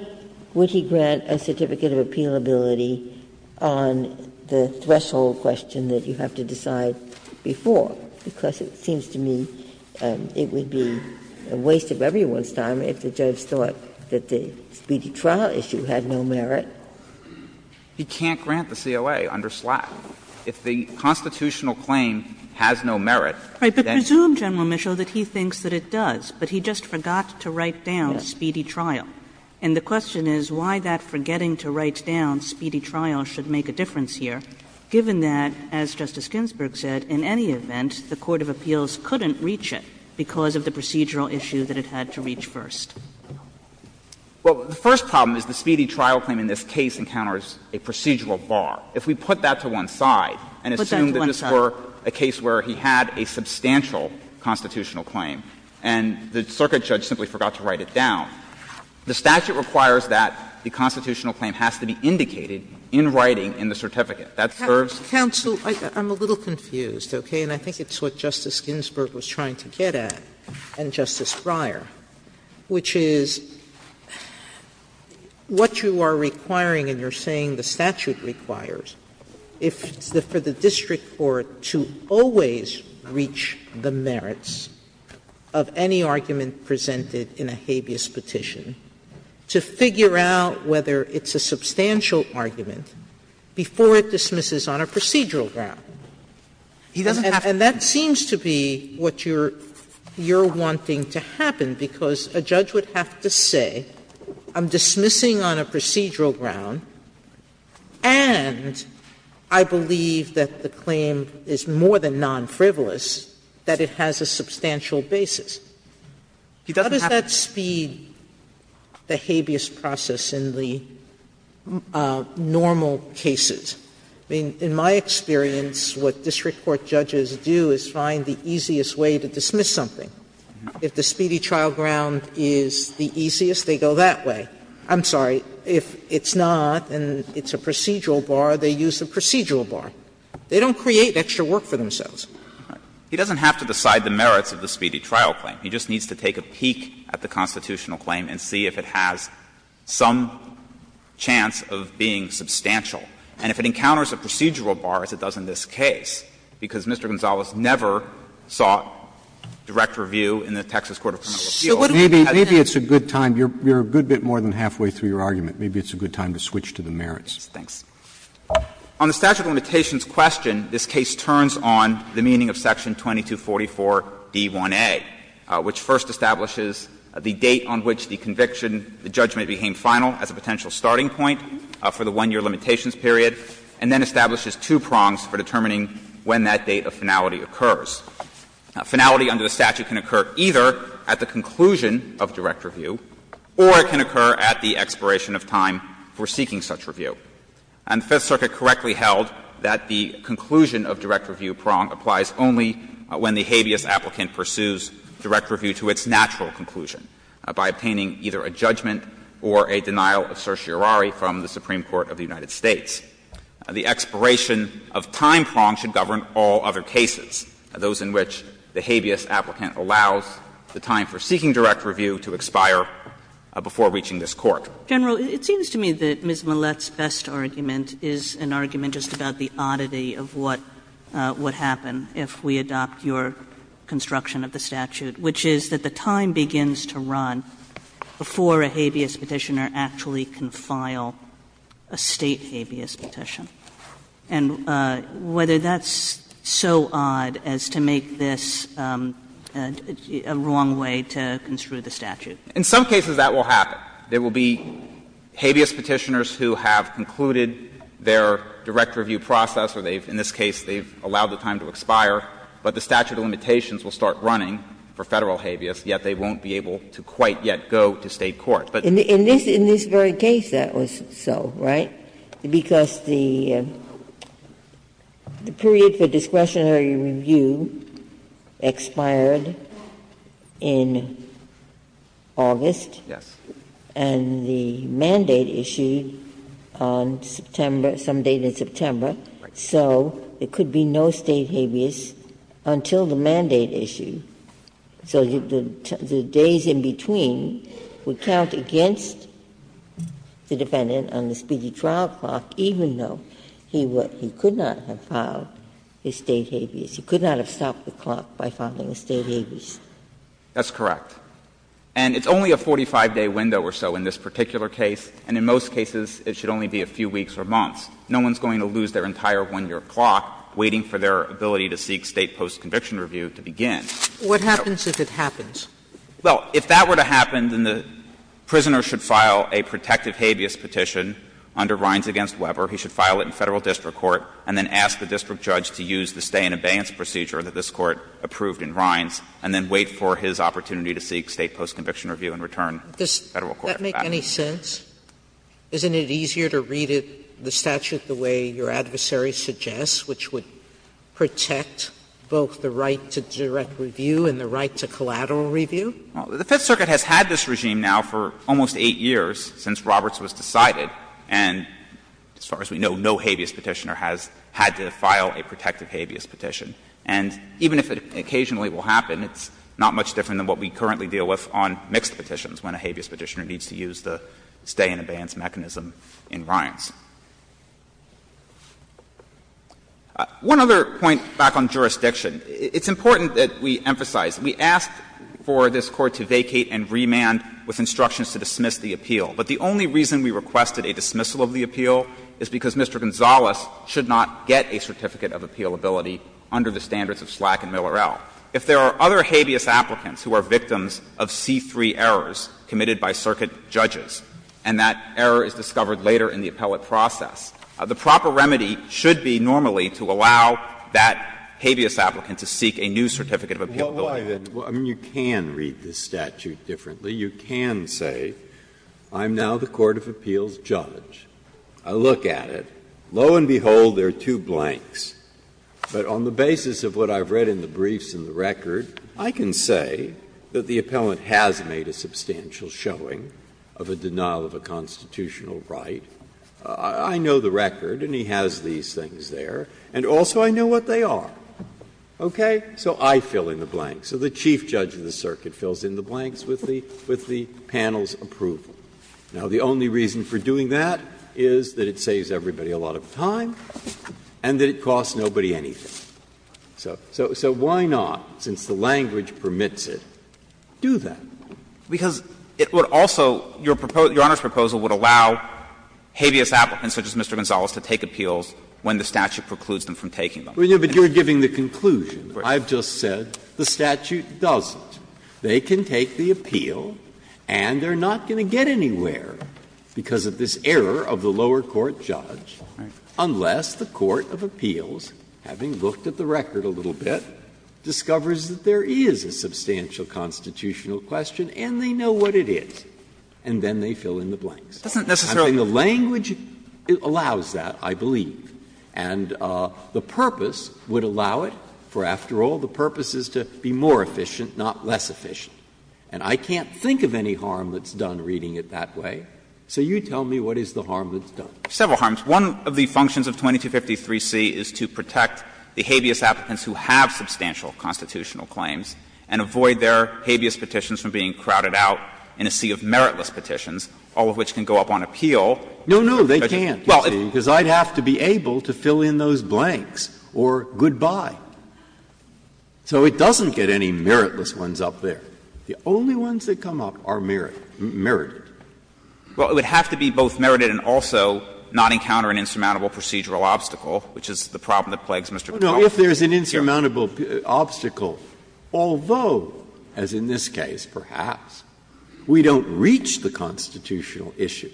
would he grant a certificate of appealability on the threshold question that you have to decide before? Because it seems to me it would be a waste of everyone's time if the judge thought that the speedy trial issue had no merit. He can't grant the CLA under Slack. If the constitutional claim has no merit, then he can't grant the CLA under Slack. But presume, General Mischel, that he thinks that it does, but he just forgot to write down speedy trial. And the question is why that forgetting to write down speedy trial should make a difference here, given that, as Justice Ginsburg said, in any event, the court of appeals couldn't reach it because of the procedural issue that it had to reach first. Well, the first problem is the speedy trial claim in this case encounters a procedural bar. If we put that to one side and assume that this were a case where he had a substantial constitutional claim and the circuit judge simply forgot to write it down, the statute requires that the constitutional claim has to be indicated in writing in the certificate. That serves the purpose. Sotomayor, I'm a little confused, okay? And I think it's what Justice Ginsburg was trying to get at, and Justice Breyer, which is what you are requiring and you're saying the statute requires, if it's for the district court to always reach the merits of any argument presented in a habeas petition, to figure out whether it's a substantial argument before it dismisses on a procedural ground. And that seems to be what you're wanting to happen. And I think that's what you're trying to happen, because a judge would have to say I'm dismissing on a procedural ground, and I believe that the claim is more than non-frivolous, that it has a substantial basis. How does that speed the habeas process in the normal cases? I mean, in my experience, what district court judges do is find the easiest way to reach the speedy trial ground, and if the speedy trial ground is the easiest, they go that way. I'm sorry. If it's not and it's a procedural bar, they use the procedural bar. They don't create extra work for themselves. He doesn't have to decide the merits of the speedy trial claim. He just needs to take a peek at the constitutional claim and see if it has some chance of being substantial. And if it encounters a procedural bar, as it does in this case, because Mr. Gonzales never sought direct review in the Texas Court of Criminal Appeals. Sotomayor, maybe it's a good time. You're a good bit more than halfway through your argument. Maybe it's a good time to switch to the merits. Yes, thanks. On the statute of limitations question, this case turns on the meaning of section 2244d1a, which first establishes the date on which the conviction, the judgment became final as a potential starting point for the 1-year limitations period, and then establishes two prongs for determining when that date of finality occurs. Finality under the statute can occur either at the conclusion of direct review or it can occur at the expiration of time for seeking such review. And the Fifth Circuit correctly held that the conclusion of direct review prong applies only when the habeas applicant pursues direct review to its natural conclusion by obtaining either a judgment or a denial of certiorari from the Supreme Court of the United States. The expiration of time prong should govern all other cases, those in which the habeas applicant allows the time for seeking direct review to expire before reaching this Court. General, it seems to me that Ms. Millett's best argument is an argument just about the oddity of what would happen if we adopt your construction of the statute, which is that the time begins to run before a habeas Petitioner actually can file a State habeas Petition. And whether that's so odd as to make this a wrong way to construe the statute. In some cases that will happen. There will be habeas Petitioners who have concluded their direct review process, or they've, in this case, they've allowed the time to expire, but the statute of limitations will start running for Federal habeas, yet they won't be able to quite yet go to State court. But the other thing is that in this very case that was so, right? Because the period for discretionary review expired in August. Yes. And the mandate issued on September, some date in September, so there could be no State habeas until the mandate issue. So the days in between would count against the defendant on the speedy trial clock, even though he could not have filed his State habeas. He could not have stopped the clock by filing a State habeas. That's correct. And it's only a 45-day window or so in this particular case, and in most cases it should only be a few weeks or months. No one's going to lose their entire 1-year clock waiting for their ability to seek State post-conviction review to begin. Sotomayor, What happens if it happens? Well, if that were to happen, then the prisoner should file a protective habeas petition under Rines v. Weber. He should file it in Federal district court and then ask the district judge to use the stay-in-abeyance procedure that this Court approved in Rines, and then wait for his opportunity to seek State post-conviction review and return to Federal court. Sotomayor, Does that make any sense? Isn't it easier to read the statute the way your adversary suggests, which would protect both the right to direct review and the right to collateral review? Well, the Fifth Circuit has had this regime now for almost 8 years, since Roberts was decided. And as far as we know, no habeas petitioner has had to file a protective habeas petition. And even if it occasionally will happen, it's not much different than what we currently deal with on mixed petitions, when a habeas petitioner needs to use the stay-in-abeyance mechanism in Rines. One other point back on jurisdiction. It's important that we emphasize, we asked for this Court to vacate and remand with instructions to dismiss the appeal. But the only reason we requested a dismissal of the appeal is because Mr. Gonzales should not get a certificate of appealability under the standards of Slack and Miller L. If there are other habeas applicants who are victims of C-3 errors committed by circuit judges, and that error is discovered later in the appellate process, the proper remedy should be normally to allow that habeas applicant to seek a new certificate of appealability. Breyer, I mean, you can read the statute differently. You can say, I'm now the court of appeals judge, I look at it, lo and behold, there are two blanks. But on the basis of what I've read in the briefs and the record, I can say that the appellant has made a substantial showing of a denial of a constitutional right. I know the record, and he has these things there, and also I know what they are. Okay? So I fill in the blanks. So the chief judge of the circuit fills in the blanks with the panel's approval. Now, the only reason for doing that is that it saves everybody a lot of time. And that it costs nobody anything. So why not, since the language permits it, do that? Because it would also – your Honor's proposal would allow habeas applicants such as Mr. Gonzalez to take appeals when the statute precludes them from taking them. But you're giving the conclusion. I've just said the statute doesn't. They can take the appeal, and they're not going to get anywhere because of this error of the lower court judge, unless the court of appeals, having looked at the record a little bit, discovers that there is a substantial constitutional question and they know what it is, and then they fill in the blanks. And the language allows that, I believe. And the purpose would allow it, for after all, the purpose is to be more efficient, not less efficient. And I can't think of any harm that's done reading it that way. So you tell me what is the harm that's done. Several harms. One of the functions of 2253c is to protect the habeas applicants who have substantial constitutional claims and avoid their habeas petitions from being crowded out in a sea of meritless petitions, all of which can go up on appeal. No, no, they can't, because I'd have to be able to fill in those blanks or goodbye. So it doesn't get any meritless ones up there. The only ones that come up are merited. Well, it would have to be both merited and also not encounter an insurmountable procedural obstacle, which is the problem that plagues Mr. McConnell. No, if there is an insurmountable obstacle, although, as in this case perhaps, we don't reach the constitutional issue,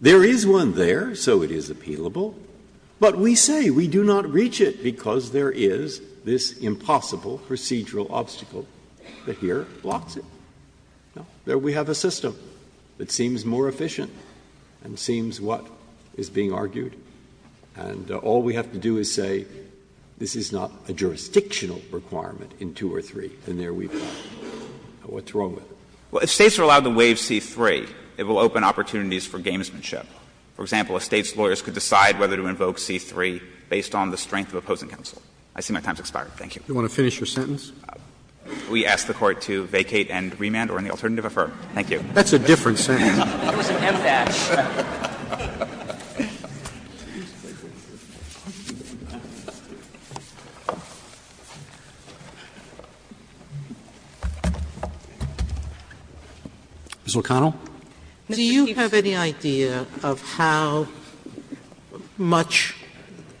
there is one there, so it is appealable, but we say we do not reach it because there is this impossible procedural obstacle that here blocks it. There we have a system that seems more efficient and seems what is being argued. And all we have to do is say this is not a jurisdictional requirement in 2 or 3, and there we are. What's wrong with it? Well, if States are allowed to waive C-3, it will open opportunities for gamesmanship. For example, if States lawyers could decide whether to invoke C-3 based on the strength of opposing counsel. I see my time has expired. Thank you. Roberts. You want to finish your sentence? We ask the Court to vacate and remand or any alternative to affirm. Thank you. That's a different sentence. It was an impass. Ms. O'Connell. Do you have any idea of how much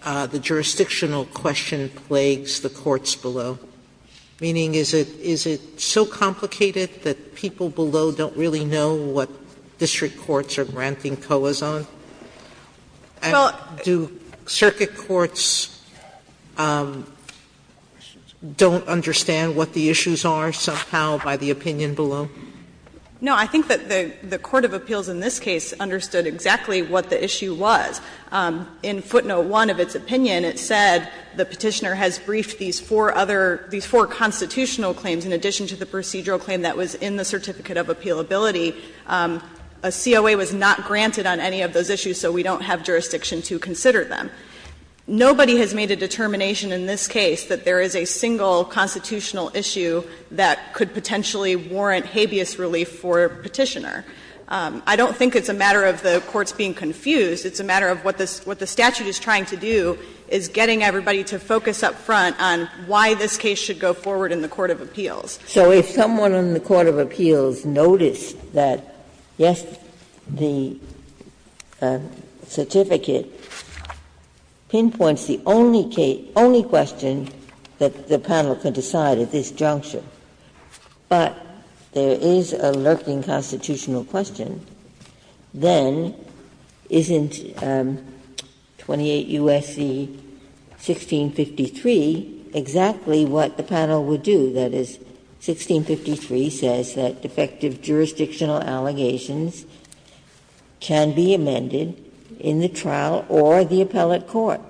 the jurisdictional question plagues the courts below? Meaning is it so complicated that people below don't really know what district courts are granting COAs on? And do circuit courts don't understand what the issues are somehow by the opinion below? No, I think that the court of appeals in this case understood exactly what the issue was. In footnote 1 of its opinion, it said the Petitioner has briefed these four other – these four constitutional claims in addition to the procedural claim that was in the Certificate of Appealability. A COA was not granted on any of those issues, so we don't have jurisdiction to consider them. Nobody has made a determination in this case that there is a single constitutional issue that could potentially warrant habeas relief for Petitioner. I don't think it's a matter of the courts being confused. It's a matter of what the statute is trying to do is getting everybody to focus up front on why this case should go forward in the court of appeals. Ginsburg. So if someone in the court of appeals noticed that, yes, the certificate pinpoints the only question that the panel could decide at this juncture, but there is a lurking constitutional question, then isn't 28 U.S.C. 1653 exactly what the panel would do? That is, 1653 says that defective jurisdictional allegations can be amended in the trial or the appellate court.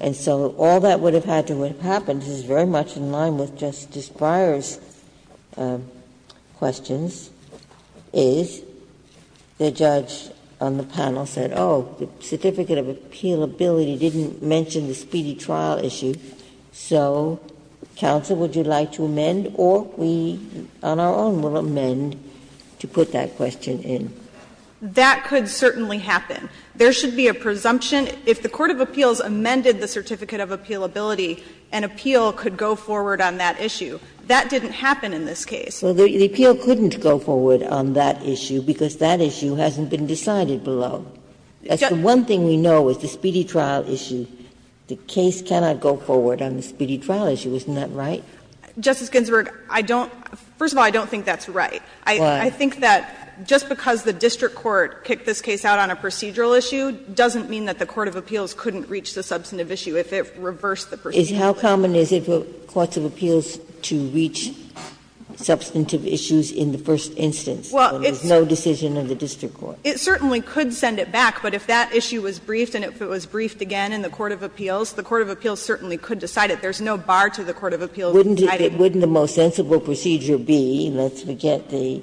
And so all that would have had to have happened is very much in line with Justice Breyer's questions, is the judge on the panel said, oh, the certificate of appealability didn't mention the speedy trial issue, so counsel, would you like to amend, or we on our own will amend to put that question in? That could certainly happen. There should be a presumption. If the court of appeals amended the certificate of appealability, an appeal could go forward on that issue. That didn't happen in this case. Ginsburg. Well, the appeal couldn't go forward on that issue because that issue hasn't been decided below. That's the one thing we know is the speedy trial issue, the case cannot go forward on the speedy trial issue. Isn't that right? Justice Ginsburg, I don't — first of all, I don't think that's right. I think that just because the district court kicked this case out on a procedural issue doesn't mean that the court of appeals couldn't reach the substantive issue if it reversed the procedural issue. How common is it for courts of appeals to reach substantive issues in the first instance when there's no decision of the district court? It certainly could send it back, but if that issue was briefed and if it was briefed again in the court of appeals, the court of appeals certainly could decide it. There's no bar to the court of appeals deciding it. Wouldn't the most sensible procedure be, let's forget the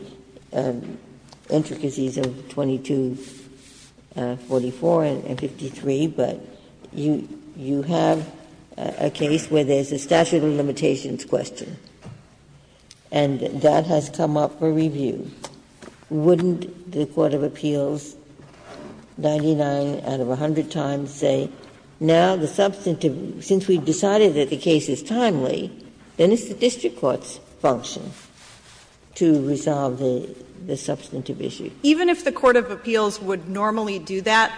intricacies of 2244 and 253, but you have a case where there's a statute of limitations question, and that has come up for review. Wouldn't the court of appeals, 99 out of 100 times, say, now the substantive — since we've decided that the case is timely, then it's the district court's function to resolve the substantive issue? Even if the court of appeals would normally do that,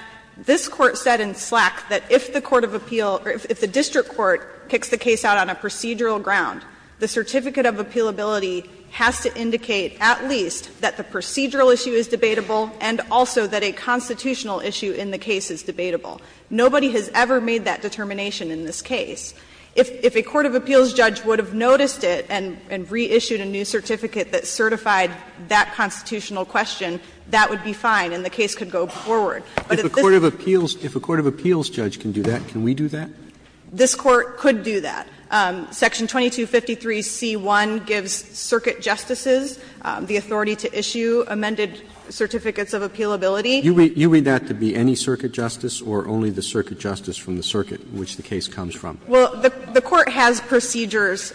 this Court said in Slack that if the court of appeal — or if the district court kicks the case out on a procedural ground, the certificate of appealability has to indicate at least that the procedural issue is debatable and also that a constitutional issue in the case is debatable. Nobody has ever made that determination in this case. If a court of appeals judge would have noticed it and reissued a new certificate that certified that constitutional question, that would be fine and the case could go forward. But at this point, if a court of appeals judge can do that, can we do that? This Court could do that. Section 2253c1 gives circuit justices the authority to issue amended certificates of appealability. You read that to be any circuit justice or only the circuit justice from the circuit in which the case comes from? Well, the Court has procedures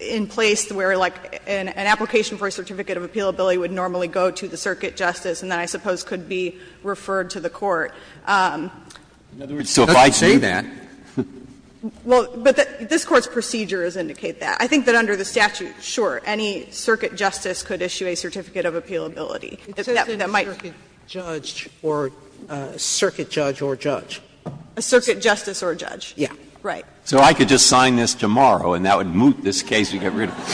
in place where, like, an application for a certificate of appealability would normally go to the circuit justice and then I suppose could be referred to the court. So if I say that. Well, but this Court's procedures indicate that. I think that under the statute, sure, any circuit justice could issue a certificate of appealability. That might be. Circuit judge or circuit judge or judge. A circuit justice or judge. Right. So I could just sign this tomorrow and that would moot this case and get rid of it.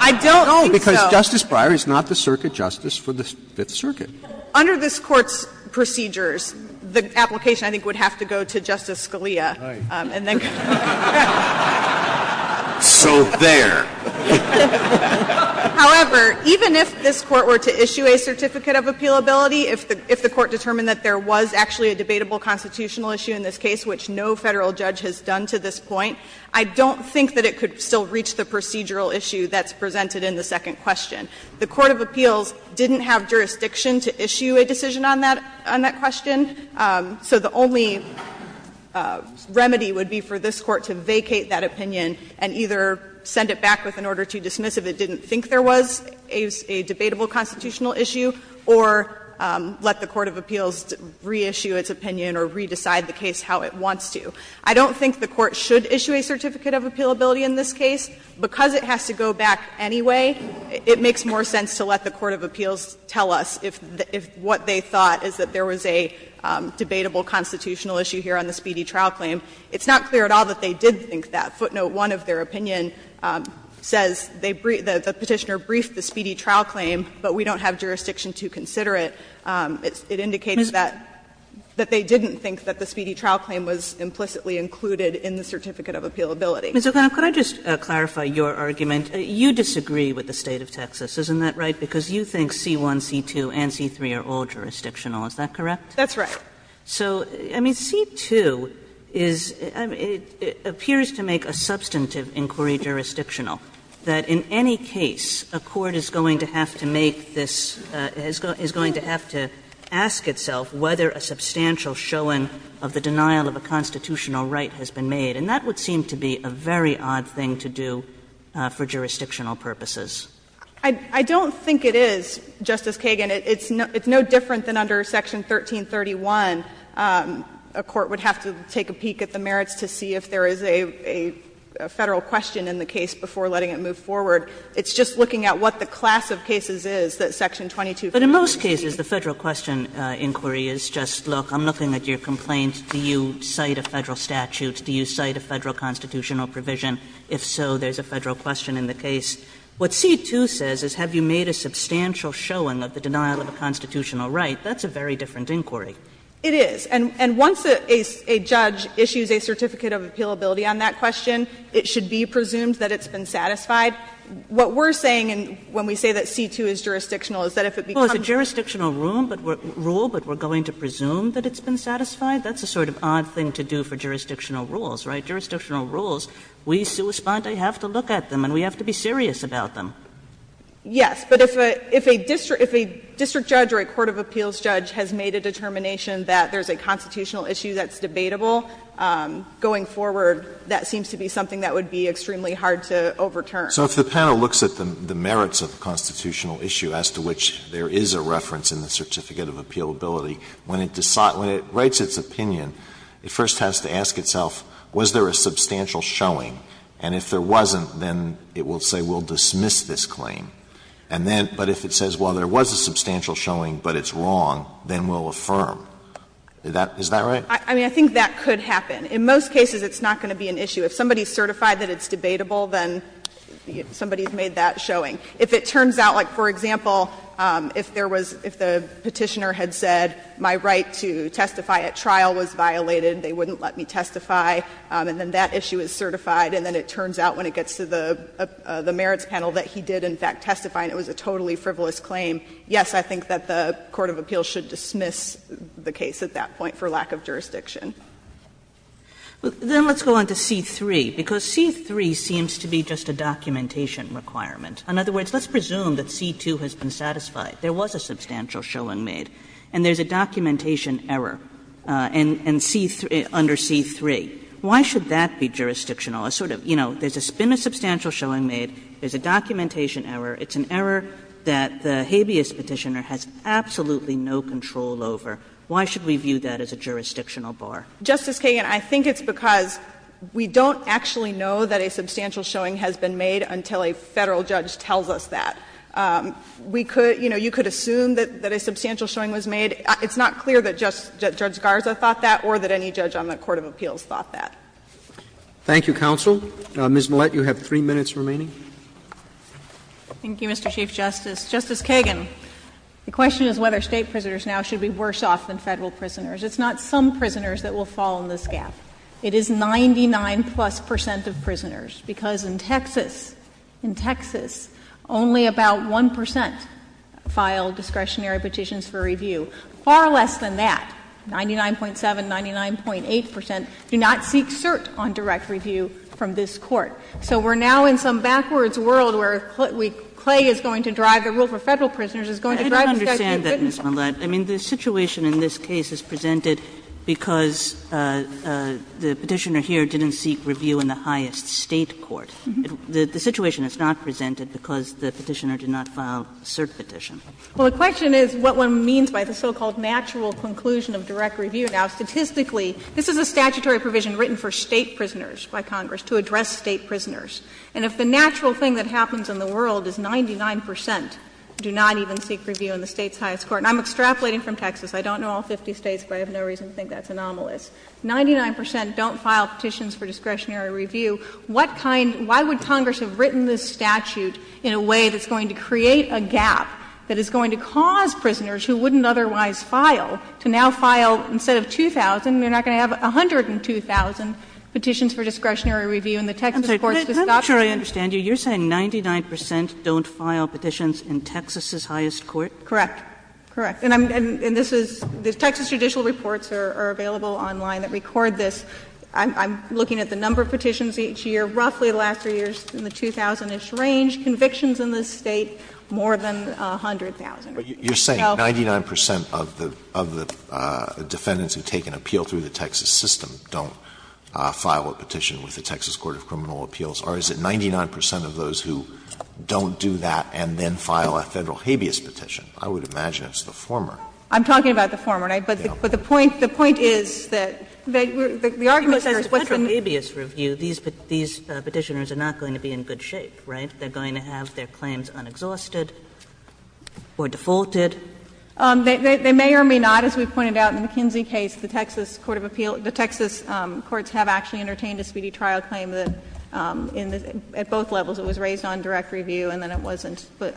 I don't think so. No, because Justice Breyer is not the circuit justice for the Fifth Circuit. Under this Court's procedures, the application, I think, would have to go to Justice Scalia and then go. So there. However, even if this Court were to issue a certificate of appealability, if the Court determined that there was actually a debatable constitutional issue in this case, which no Federal judge has done to this point, I don't think that it could still reach the procedural issue that's presented in the second question. The court of appeals didn't have jurisdiction to issue a decision on that question. So the only remedy would be for this Court to vacate that opinion and either send it back with an order to dismiss if it didn't think there was a debatable constitutional issue, or let the court of appeals reissue its opinion or re-decide the case how it wants to. I don't think the Court should issue a certificate of appealability in this case. Because it has to go back anyway, it makes more sense to let the court of appeals tell us if what they thought is that there was a debatable constitutional issue here on the speedy trial claim. It's not clear at all that they did think that. Footnote 1 of their opinion says they briefed, the Petitioner briefed the speedy trial claim but we don't have jurisdiction to consider it. It indicated that they didn't think that the speedy trial claim was implicitly included in the certificate of appealability. Kagan Ms. O'Connell, could I just clarify your argument? You disagree with the State of Texas, isn't that right, because you think C1, C2 and C3 are all jurisdictional, is that correct? That's right. So, I mean, C2 is, I mean, it appears to make a substantive inquiry jurisdictional that in any case a court is going to have to make this, is going to have to ask itself whether a substantial showing of the denial of a constitutional right has been made. And that would seem to be a very odd thing to do for jurisdictional purposes. I don't think it is, Justice Kagan. It's no different than under Section 1331. A court would have to take a peek at the merits to see if there is a Federal question in the case before letting it move forward. It's just looking at what the class of cases is that Section 22. Kagan But in most cases the Federal question inquiry is just, look, I'm looking at your complaint. Do you cite a Federal statute? Do you cite a Federal constitutional provision? If so, there's a Federal question in the case. What C2 says is have you made a substantial showing of the denial of a constitutional right? That's a very different inquiry. It is. And once a judge issues a certificate of appealability on that question, it should be presumed that it's been satisfied. What we're saying when we say that C2 is jurisdictional is that if it becomes a jurisdictional rule, but we're going to presume that it's been satisfied, that's a sort of odd thing to do for jurisdictional rules, right? Jurisdictional rules, we have to look at them and we have to be serious about them. Yes. But if a district judge or a court of appeals judge has made a determination that there's a constitutional issue that's debatable going forward, that seems to be something that would be extremely hard to overturn. So if the panel looks at the merits of the constitutional issue as to which there is a reference in the certificate of appealability, when it decides, when it writes its opinion, it first has to ask itself, was there a substantial showing? And if there wasn't, then it will say we'll dismiss this claim. And then, but if it says, well, there was a substantial showing, but it's wrong, then we'll affirm. Is that right? I mean, I think that could happen. In most cases, it's not going to be an issue. If somebody is certified that it's debatable, then somebody has made that showing. If it turns out, like, for example, if there was, if the Petitioner had said, my right to testify at trial was violated, they wouldn't let me testify, and then that issue is certified, and then it turns out when it gets to the merits panel that he did, in fact, testify and it was a totally frivolous claim, yes, I think that the court of appeals should dismiss the case at that point for lack of jurisdiction. Then let's go on to C-3, because C-3 seems to be just a documentation requirement. In other words, let's presume that C-2 has been satisfied. There was a substantial showing made, and there's a documentation error under C-3. Why should that be jurisdictional? A sort of, you know, there's been a substantial showing made, there's a documentation error, it's an error that the habeas Petitioner has absolutely no control over. Why should we view that as a jurisdictional bar? Justice Kagan, I think it's because we don't actually know that a substantial showing has been made until a Federal judge tells us that. We could, you know, you could assume that a substantial showing was made. It's not clear that Judge Garza thought that or that any judge on the court of appeals thought that. Thank you, counsel. Ms. Millett, you have three minutes remaining. Thank you, Mr. Chief Justice. Justice Kagan, the question is whether State prisoners now should be worse off than Federal prisoners. It's not some prisoners that will fall in this gap. It is 99 plus percent of prisoners, because in Texas, in Texas, only about 1% filed discretionary petitions for review. Far less than that, 99.7, 99.8% do not seek cert on direct review from this court. So we're now in some backwards world where Clay is going to drive the rule for Federal prisoners, is going to drive the statute of goodness. Kagan I don't understand that, Ms. Millett. I mean, the situation in this case is presented because the Petitioner here didn't seek review in the highest State court. The situation is not presented because the Petitioner did not file cert petition. Millett Well, the question is what one means by the so-called natural conclusion of direct review. Now, statistically, this is a statutory provision written for State prisoners by Congress to address State prisoners. And if the natural thing that happens in the world is 99% do not even seek review in the State's highest court, and I'm extrapolating from Texas, I don't know all 50 States, but I have no reason to think that's anomalous, 99% don't file petitions for discretionary review, what kind, why would Congress have written this statute in a way that's going to create a gap that is going to cause prisoners who wouldn't otherwise file to now file instead of 2,000, they're not going to have 102,000 petitions for discretionary review in the Texas courts to stop them. Kagan I'm not sure I understand you. You're saying 99% don't file petitions in Texas's highest court? Millett Correct. Correct. And this is the Texas judicial reports are available online that record this. I'm looking at the number of petitions each year. Roughly the last three years in the 2,000-ish range, convictions in this State more than 100,000 or so. Alito But you're saying 99% of the defendants who take an appeal through the Texas system don't file a petition with the Texas Court of Criminal Appeals, or is it 99% of those who don't do that and then file a Federal habeas petition? I would imagine it's the former. Millett I'm talking about the former, but the point, the point is that the argument is what's in the habeas review, these Petitioners are not going to be in good shape, right? They're going to have their claims unexhausted or defaulted. Millett They may or may not, as we pointed out in the McKinsey case, the Texas Court of Appeal, the Texas courts have actually entertained a speedy trial claim that in the, at both levels it was raised on direct review and then it wasn't, but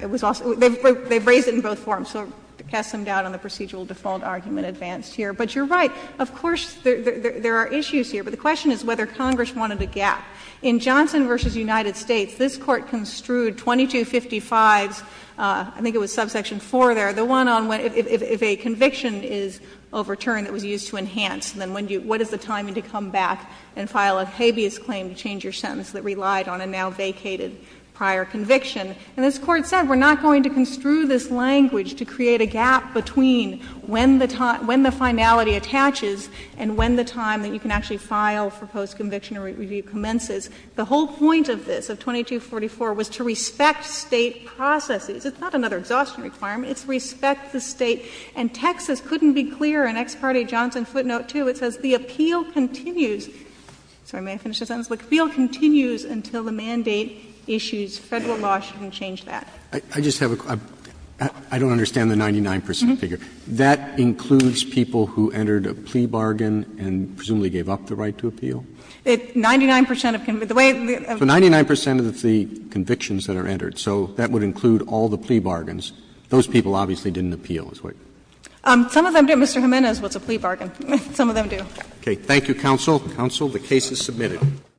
it was also, they've raised it in both forms, so cast some doubt on the procedural default argument advanced here. But you're right, of course, there are issues here, but the question is whether Congress wanted a gap. In Johnson v. United States, this Court construed 2255s, I think it was subsection 4 there, the one on, if a conviction is overturned, it was used to enhance, then when do you, what is the timing to come back and file a habeas claim to change your sentence that relied on a now vacated prior conviction. And this Court said we're not going to construe this language to create a gap between when the time, when the finality attaches and when the time that you can actually file for post-conviction review commences. The whole point of this, of 2244, was to respect State processes. It's not another exhaustion requirement. It's respect the State. And Texas couldn't be clearer. In ex parte Johnson footnote 2, it says the appeal continues. Sorry, may I finish the sentence? The appeal continues until the mandate issues Federal law shouldn't change that. Roberts. I just have a question. I don't understand the 99 percent figure. That includes people who entered a plea bargain and presumably gave up the right It's 99 percent of the way of the way of the way of the way of the way of the way of the way of the way of the way of the way of the way of the way of the way of the way plea bargains. Those people obviously didn't appeal. Some of them, Mr. him in a, is what's a plea bargain. Some of them do. Okay. Thank you, Counsel. Counsel, the case is submitted. 1